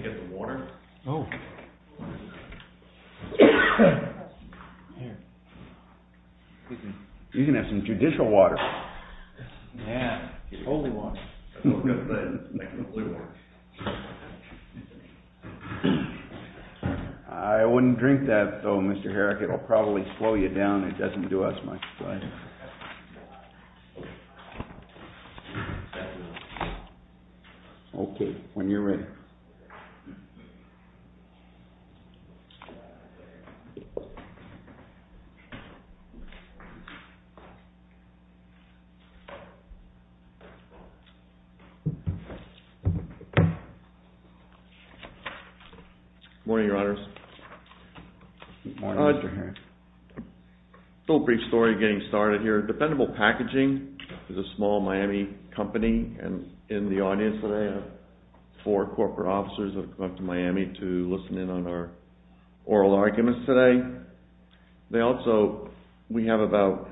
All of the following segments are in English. Down into the Legs to get water. Oh, you can have some judicial water. I wouldn't drink that, though, Mr. Herrick, it'll probably slow you down, it doesn't do as much as I do. Okay, when you're ready. Good morning, Your Honors. Good morning, Mr. Herrick. A little brief story getting started here. Dependable Packaging is a small Miami company, and in the audience today, four corporate officers have come up to Miami to listen in on our oral arguments today. They also, we have about,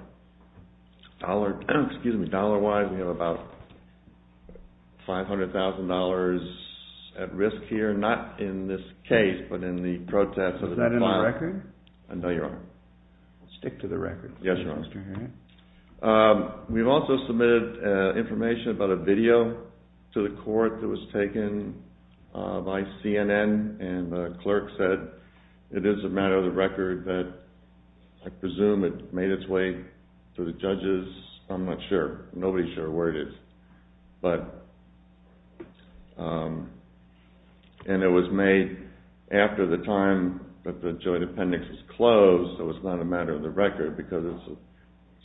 dollar-wise, we have about $500,000 at risk here, not in this case, but in the protests. Is that in our record? No, Your Honor. Stick to the record. Yes, Your Honor. We've also submitted information about a video to the court that was taken by CNN, and the clerk said it is a matter of the record that I presume it made its way to the judges. I'm not sure. Nobody's sure where it is. But, and it was made after the time that the joint appendix was closed, so it's not a matter of the record, because it's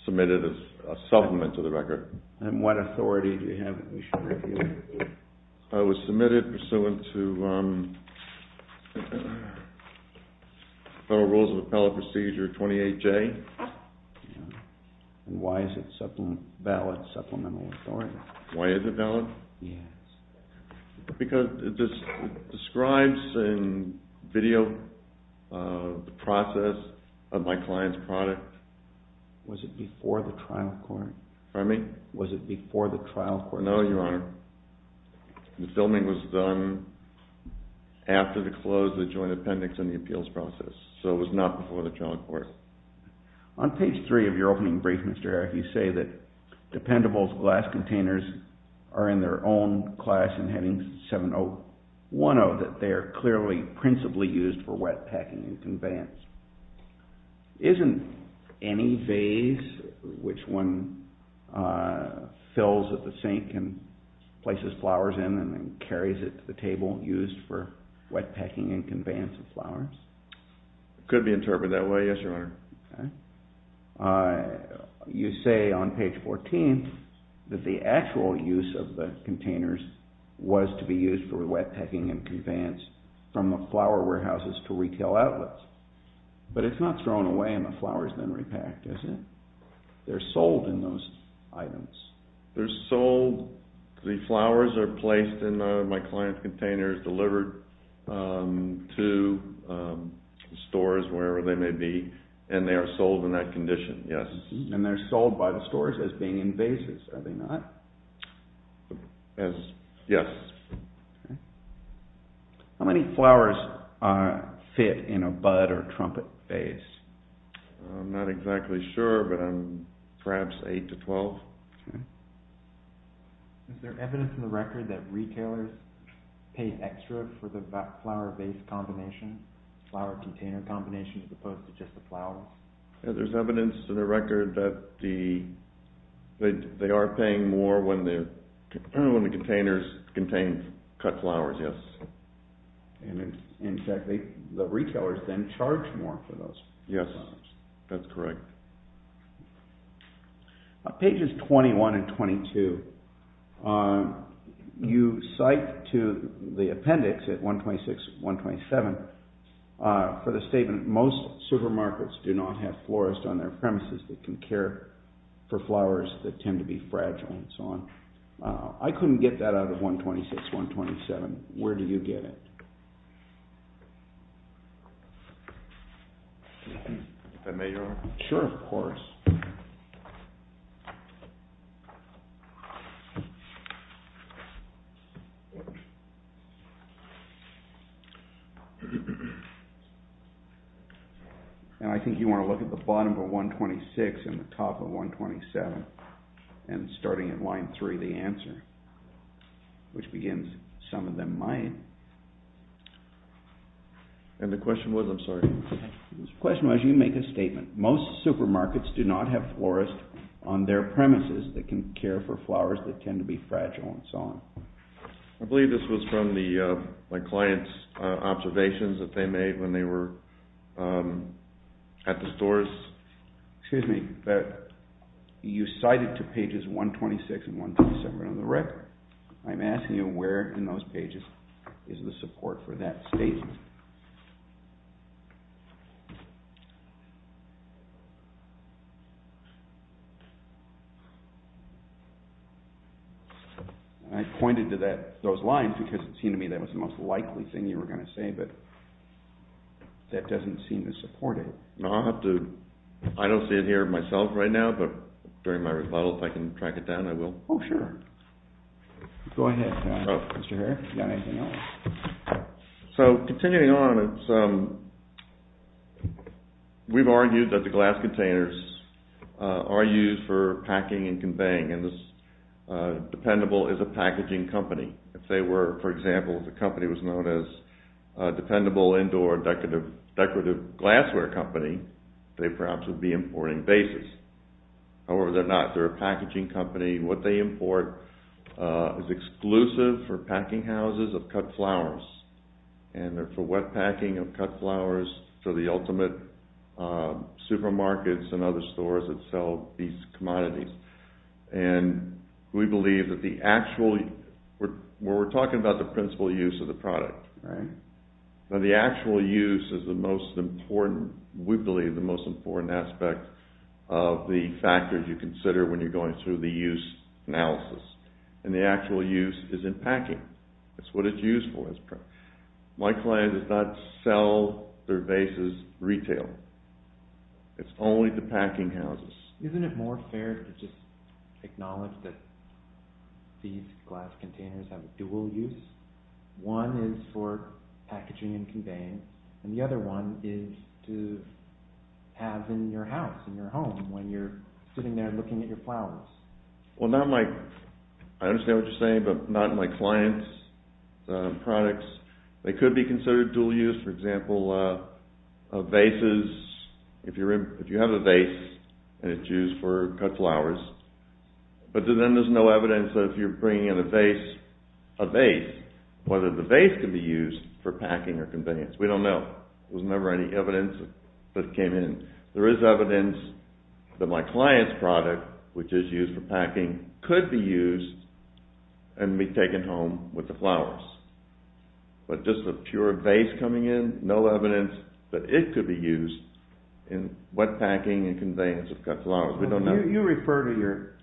submitted as a supplement to the record. And what authority do you have that we should review? It was submitted pursuant to Federal Rules of Appellate Procedure 28J. And why is it a ballot supplemental authority? Why is it a ballot? Yes. Because it describes in video the process of my client's product. Was it before the trial court? Pardon me? Was it before the trial court? No, Your Honor. The filming was done after the close of the joint appendix and the appeals process, so it was not before the trial court. On page three of your opening brief, Mr. Herrick, you say that dependables glass containers are in their own class and heading 7010, that they are clearly principally used for wet packing and conveyance. Isn't any vase which one fills at the sink and places flowers in and then carries it to the table used for wet packing and conveyance of flowers? It could be interpreted that way, yes, Your Honor. You say on page 14 that the actual use of the containers was to be used for wet packing and conveyance from the flower warehouses to retail outlets. But it's not thrown away and the flower's been repacked, is it? They're sold in those items. They're sold. The flowers are placed in my client's containers, delivered to stores, wherever they may be, and they are sold in that condition, yes. And they're sold by the stores as being in vases, are they not? Yes. How many flowers fit in a bud or trumpet vase? I'm not exactly sure, but perhaps 8 to 12. Is there evidence in the record that retailers pay extra for the flower vase combination, flower container combination, as opposed to just the flowers? There's evidence in the record that they are paying more when the containers contain cut flowers, yes. And in fact, the retailers then charge more for those. Yes, that's correct. Pages 21 and 22, you cite to the appendix at 126, 127, for the statement, most supermarkets do not have florists on their premises that can care for flowers that tend to be fragile and so on. I couldn't get that out of 126, 127. Where do you get it? If I may, Your Honor? Sure, of course. And I think you want to look at the bottom of 126 and the top of 127 and starting at line 3, the answer, which begins, some of them might. And the question was, I'm sorry? The question was, you make a statement, most supermarkets do not have florists on their premises that can care for flowers that tend to be fragile and so on. I believe this was from my client's observations that they made when they were at the stores. Excuse me, but you cited to pages 126 and 127 on the record. I'm asking you where in those pages is the support for that statement. I pointed to those lines because it seemed to me that was the most likely thing you were going to say, but that doesn't seem to support it. I don't see it here myself right now, but during my rebuttal, if I can track it down, I will. Oh, sure. Go ahead, Mr. Herr. You got anything else? So, continuing on, we've argued that the glass containers are used for packing and conveying and this dependable is a packaging company. If they were, for example, if the company was known as dependable indoor decorative glassware company, they perhaps would be importing vases. However, they're not. They're a packaging company. What they import is exclusive for packing houses of cut flowers and they're for wet packing of cut flowers for the ultimate supermarkets and other stores that sell these commodities. And we believe that the actual, when we're talking about the principal use of the product, that the actual use is the most important, we believe the most important aspect of the factors you consider when you're going through the use analysis. And the actual use is in packing. That's what it's used for. My client does not sell their vases retail. It's only the packing houses. Isn't it more fair to just acknowledge that these glass containers have dual use? One is for packaging and conveying and the other one is to have in your house, in your home, when you're sitting there looking at your flowers. Well, not my, I understand what you're saying, but not my client's products. They could be considered dual use. For example, a vase is, if you have a vase and it's used for cut flowers, but then there's no evidence that if you're bringing in a vase, a vase, whether the vase can be used for packing or conveyance. We don't know. There was never any evidence that it came in. There is evidence that my client's product, which is used for packing, could be used and be taken home with the flowers. But just a pure vase coming in, no evidence that it could be used in wet packing and conveyance of cut flowers. We don't know. You refer to your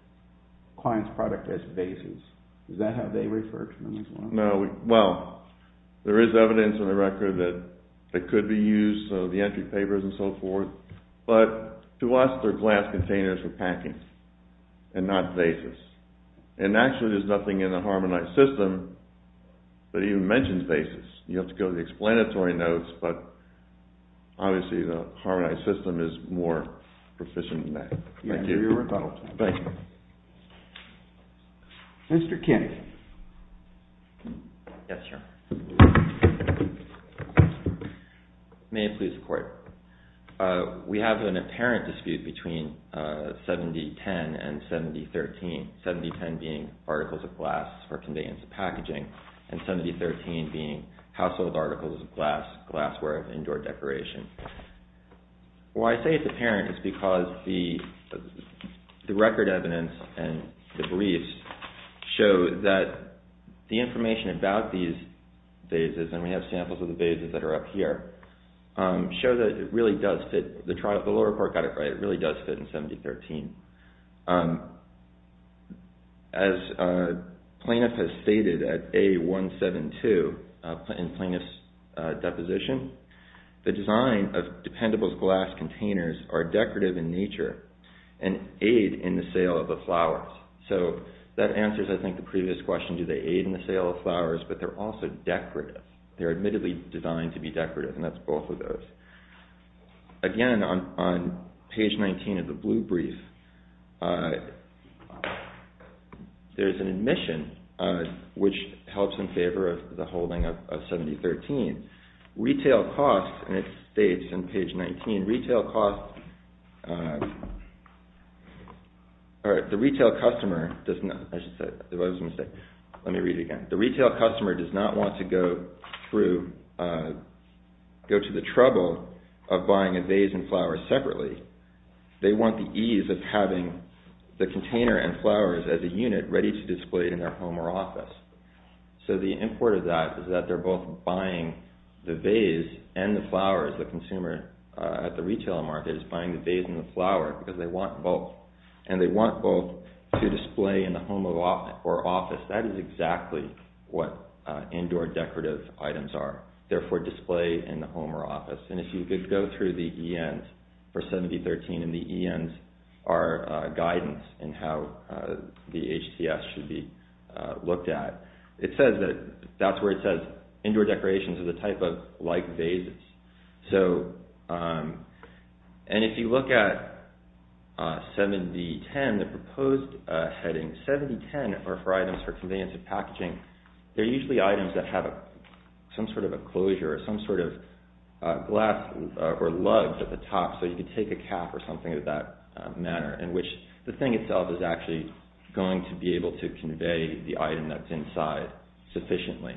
client's product as vases. Is that how they refer to them as well? No, well, there is evidence on the record that it could be used, so the entry papers and so forth. But to us, they're glass containers for packing and not vases. And actually, there's nothing in the Harmonized System that even mentions vases. You have to go to the explanatory notes, but obviously the Harmonized System is more proficient than that. Thank you. You're welcome. Thank you. Yes, sir. May it please the Court. We have an apparent dispute between 7010 and 7013, 7010 being articles of glass for conveyance of packaging and 7013 being household articles of glass, glassware of indoor decoration. Why I say it's apparent is because the record evidence and the briefs show that the information about these vases, and we have samples of the vases that are up here, show that it really does fit. The lower court got it right. It really does fit in 7013. As plaintiff has stated at A172 in plaintiff's deposition, the design of dependable glass containers are decorative in nature and aid in the sale of the flowers. So that answers, I think, the previous question, do they aid in the sale of flowers, but they're also decorative. They're admittedly designed to be decorative, and that's both of those. Again, on page 19 of the blue brief, there's an admission which helps in favor of the holding of 7013. Retail costs, and it states on page 19, retail costs, the retail customer does not, I should say, there was a mistake. Let me read it again. The retail customer does not want to go through, go to the trouble of buying a vase and flowers separately. They want the ease of having the container and flowers as a unit ready to display in their home or office. So the import of that is that they're both buying the vase and the flowers. The consumer at the retail market is buying the vase and the flower because they want both, and they want both to display in the home or office. That is exactly what indoor decorative items are. They're for display in the home or office. And if you could go through the ENs for 7013, and the ENs are guidance in how the HCS should be looked at. It says that, that's where it says, indoor decorations are the type of light vases. So, and if you look at 7010, the proposed heading, 7010 are for items for conveyance of packaging. They're usually items that have some sort of a closure or some sort of glass or lugs at the top. So you could take a cap or something of that manner in which the thing itself is actually going to be able to convey the item that's inside sufficiently.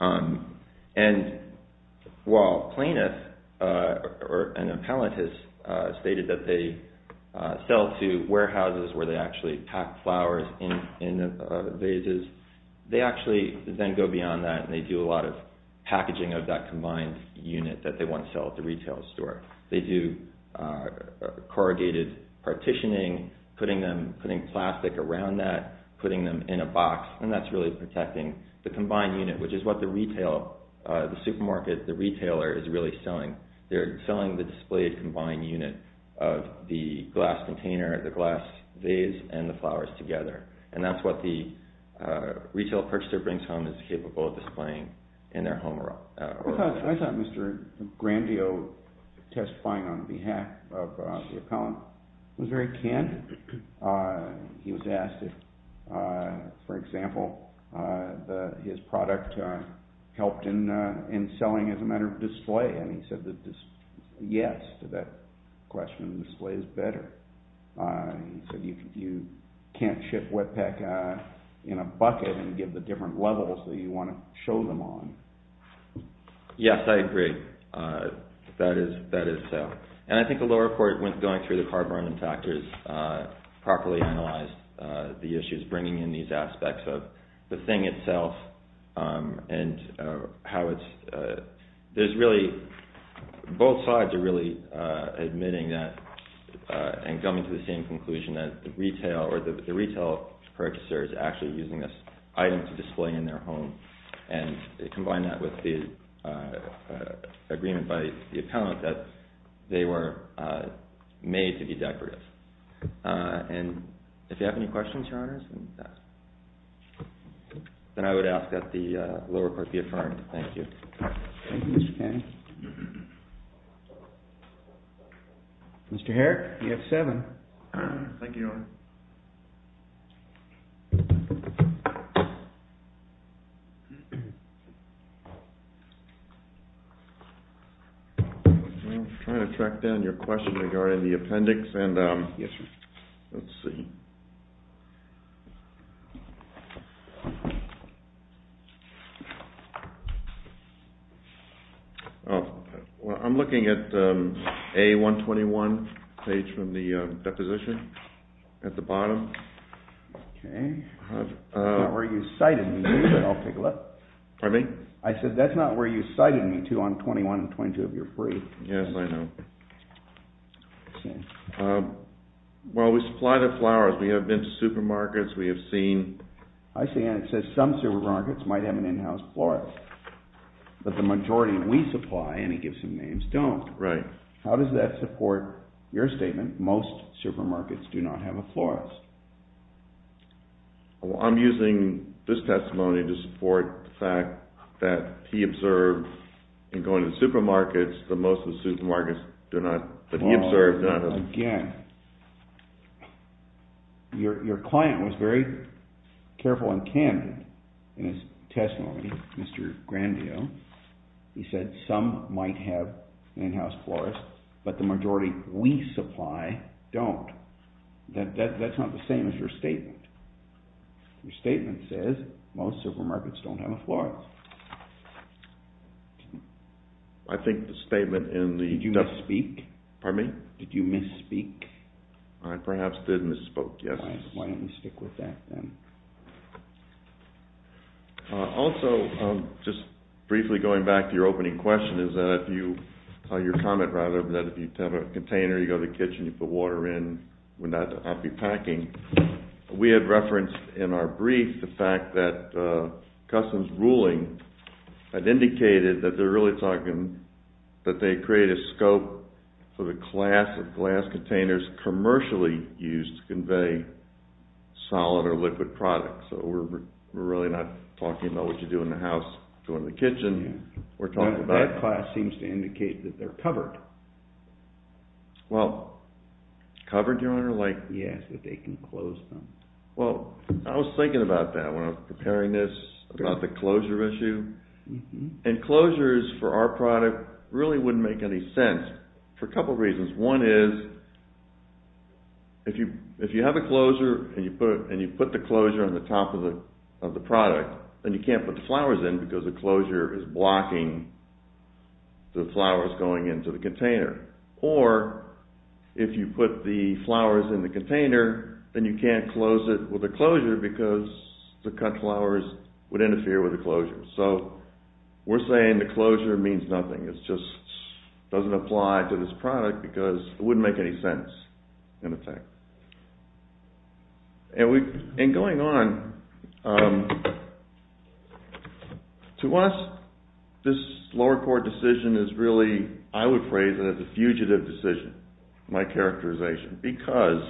And while plaintiff or an appellant has stated that they sell to warehouses where they actually pack flowers in the vases, they actually then go beyond that and they do a lot of packaging of that combined unit that they want to sell at the retail store. They do corrugated partitioning, putting them, putting plastic around that, putting them in a box, and that's really protecting the combined unit, which is what the retail, the supermarket, the retailer is really selling. They're selling the displayed combined unit of the glass container, the glass vase and the flowers together. And that's what the retail purchaser brings home is capable of displaying in their home. I thought Mr. Grandio testifying on behalf of the appellant was very candid. He was asked if, for example, his product helped in selling as a matter of display, and he said yes to that question, display is better. He said you can't ship wet pack in a bucket and give the different levels that you want to show them on. Yes, I agree. That is so. And I think the lower court, when going through the carbon impactors, properly analyzed the issues bringing in these aspects of the thing itself and how it's, there's really, both sides are really admitting that and coming to the same conclusion that the retail or the retail purchaser is actually using this item to display in their home and combine that with the agreement by the appellant that they were made to be decorative. And if you have any questions, Your Honors, then I would ask that the lower court be affirmed. Thank you. Thank you, Mr. Cannon. Mr. Herrick, you have seven. Thank you, Your Honor. I'm trying to track down your question regarding the appendix. Yes, sir. Let's see. I'm looking at A121 page from the deposition at the bottom. Okay. Not where you cited me, but I'll take a look. Pardon me? I said that's not where you cited me to on 21 and 22 of your brief. Yes, I know. Well, we supply the flowers. We have been to supermarkets. We have seen. I see, and it says some supermarkets might have an in-house florist, but the majority we supply, and he gives some names, don't. Right. How does that support your statement, most supermarkets do not have a florist? Well, I'm using this testimony to support the fact that he observed in going to supermarkets that most of the supermarkets do not, that he observed. Again, your client was very careful and candid in his testimony, Mr. Grandio. He said some might have an in-house florist, but the majority we supply don't. That's not the same as your statement. Your statement says most supermarkets don't have a florist. I think the statement in the- Did you misspeak? Pardon me? Did you misspeak? I perhaps did misspoke, yes. Why don't we stick with that then? Also, just briefly going back to your opening question is that if you, your comment rather, that if you have a container, you go to the kitchen, you put water in, would that not be packing? We have referenced in our brief the fact that customs ruling had indicated that they're really talking, that they create a scope for the class of glass containers commercially used to convey solid or liquid products. So we're really not talking about what you do in the house, go in the kitchen, we're talking about- That class seems to indicate that they're covered. Well, covered, Your Honor? Yes, that they can close them. Well, I was thinking about that when I was preparing this, about the closure issue. And closures for our product really wouldn't make any sense for a couple reasons. One is if you have a closure and you put the closure on the top of the product, then you can't put the flowers in because the closure is blocking the flowers going into the container. Or if you put the flowers in the container, then you can't close it with a closure because the cut flowers would interfere with the closure. So we're saying the closure means nothing. It just doesn't apply to this product because it wouldn't make any sense in effect. And going on, to us, this lower court decision is really, I would phrase it as a fugitive decision, my characterization, because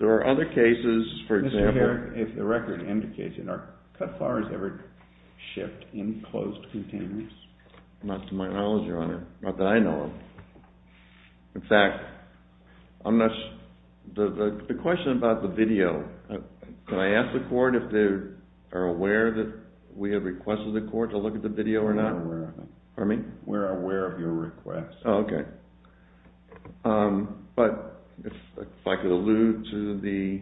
there are other cases, for example- Mr. Herrick, if the record indicates it, are cut flowers ever shipped in closed containers? Not to my knowledge, Your Honor. Not that I know of. In fact, the question about the video, can I ask the court if they are aware that we have requested the court to look at the video or not? We're aware of it. Pardon me? We're aware of your request. Oh, okay. But if I could allude to the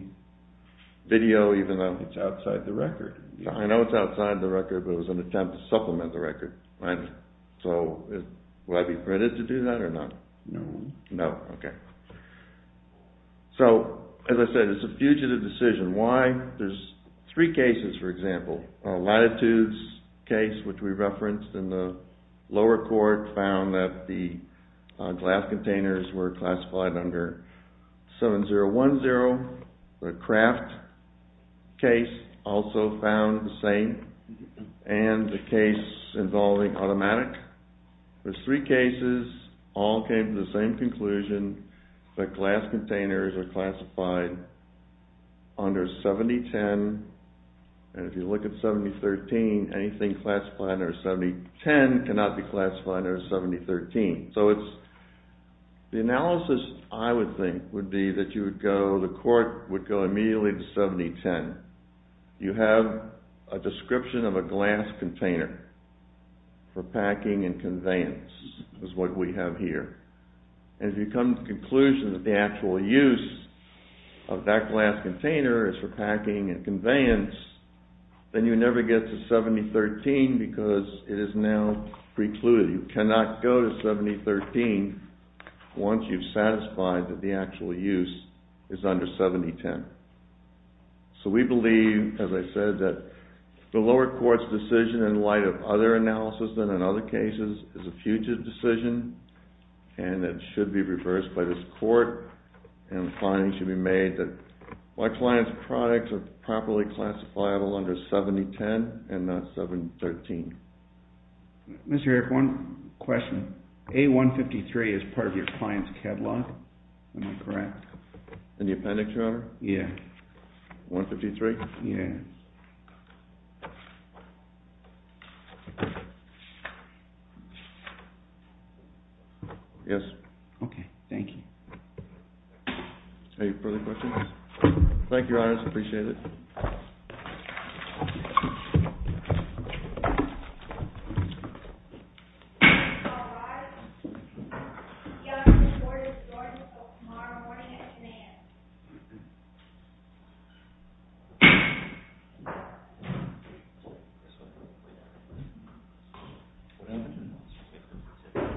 video, even though- It's outside the record. I know it's outside the record, but it was an attempt to supplement the record. So would I be permitted to do that or not? No. No, okay. So, as I said, it's a fugitive decision. Why? There's three cases, for example. Latitude's case, which we referenced in the lower court, found that the glass containers were classified under 7010. The Kraft case also found the same. And the case involving automatic. There's three cases, all came to the same conclusion, that glass containers are classified under 7010. And if you look at 7013, anything classified under 7010 cannot be classified under 7013. So the analysis, I would think, would be that the court would go immediately to 7010. You have a description of a glass container for packing and conveyance is what we have here. And if you come to the conclusion that the actual use of that glass container is for packing and conveyance, then you never get to 7013 because it is now precluded. You cannot go to 7013 once you've satisfied that the actual use is under 7010. So we believe, as I said, that the lower court's decision, in light of other analysis than in other cases, is a fugitive decision. And it should be reversed by this court. And the finding should be made that my client's products are properly classifiable under 7010 and not 7013. Mr. Eric, one question. A153 is part of your client's catalog. Am I correct? In the appendix, Your Honor? Yes. A153? Yes. Yes. Okay. Thank you. Any further questions? Thank you, Your Honor. I appreciate it. Thank you.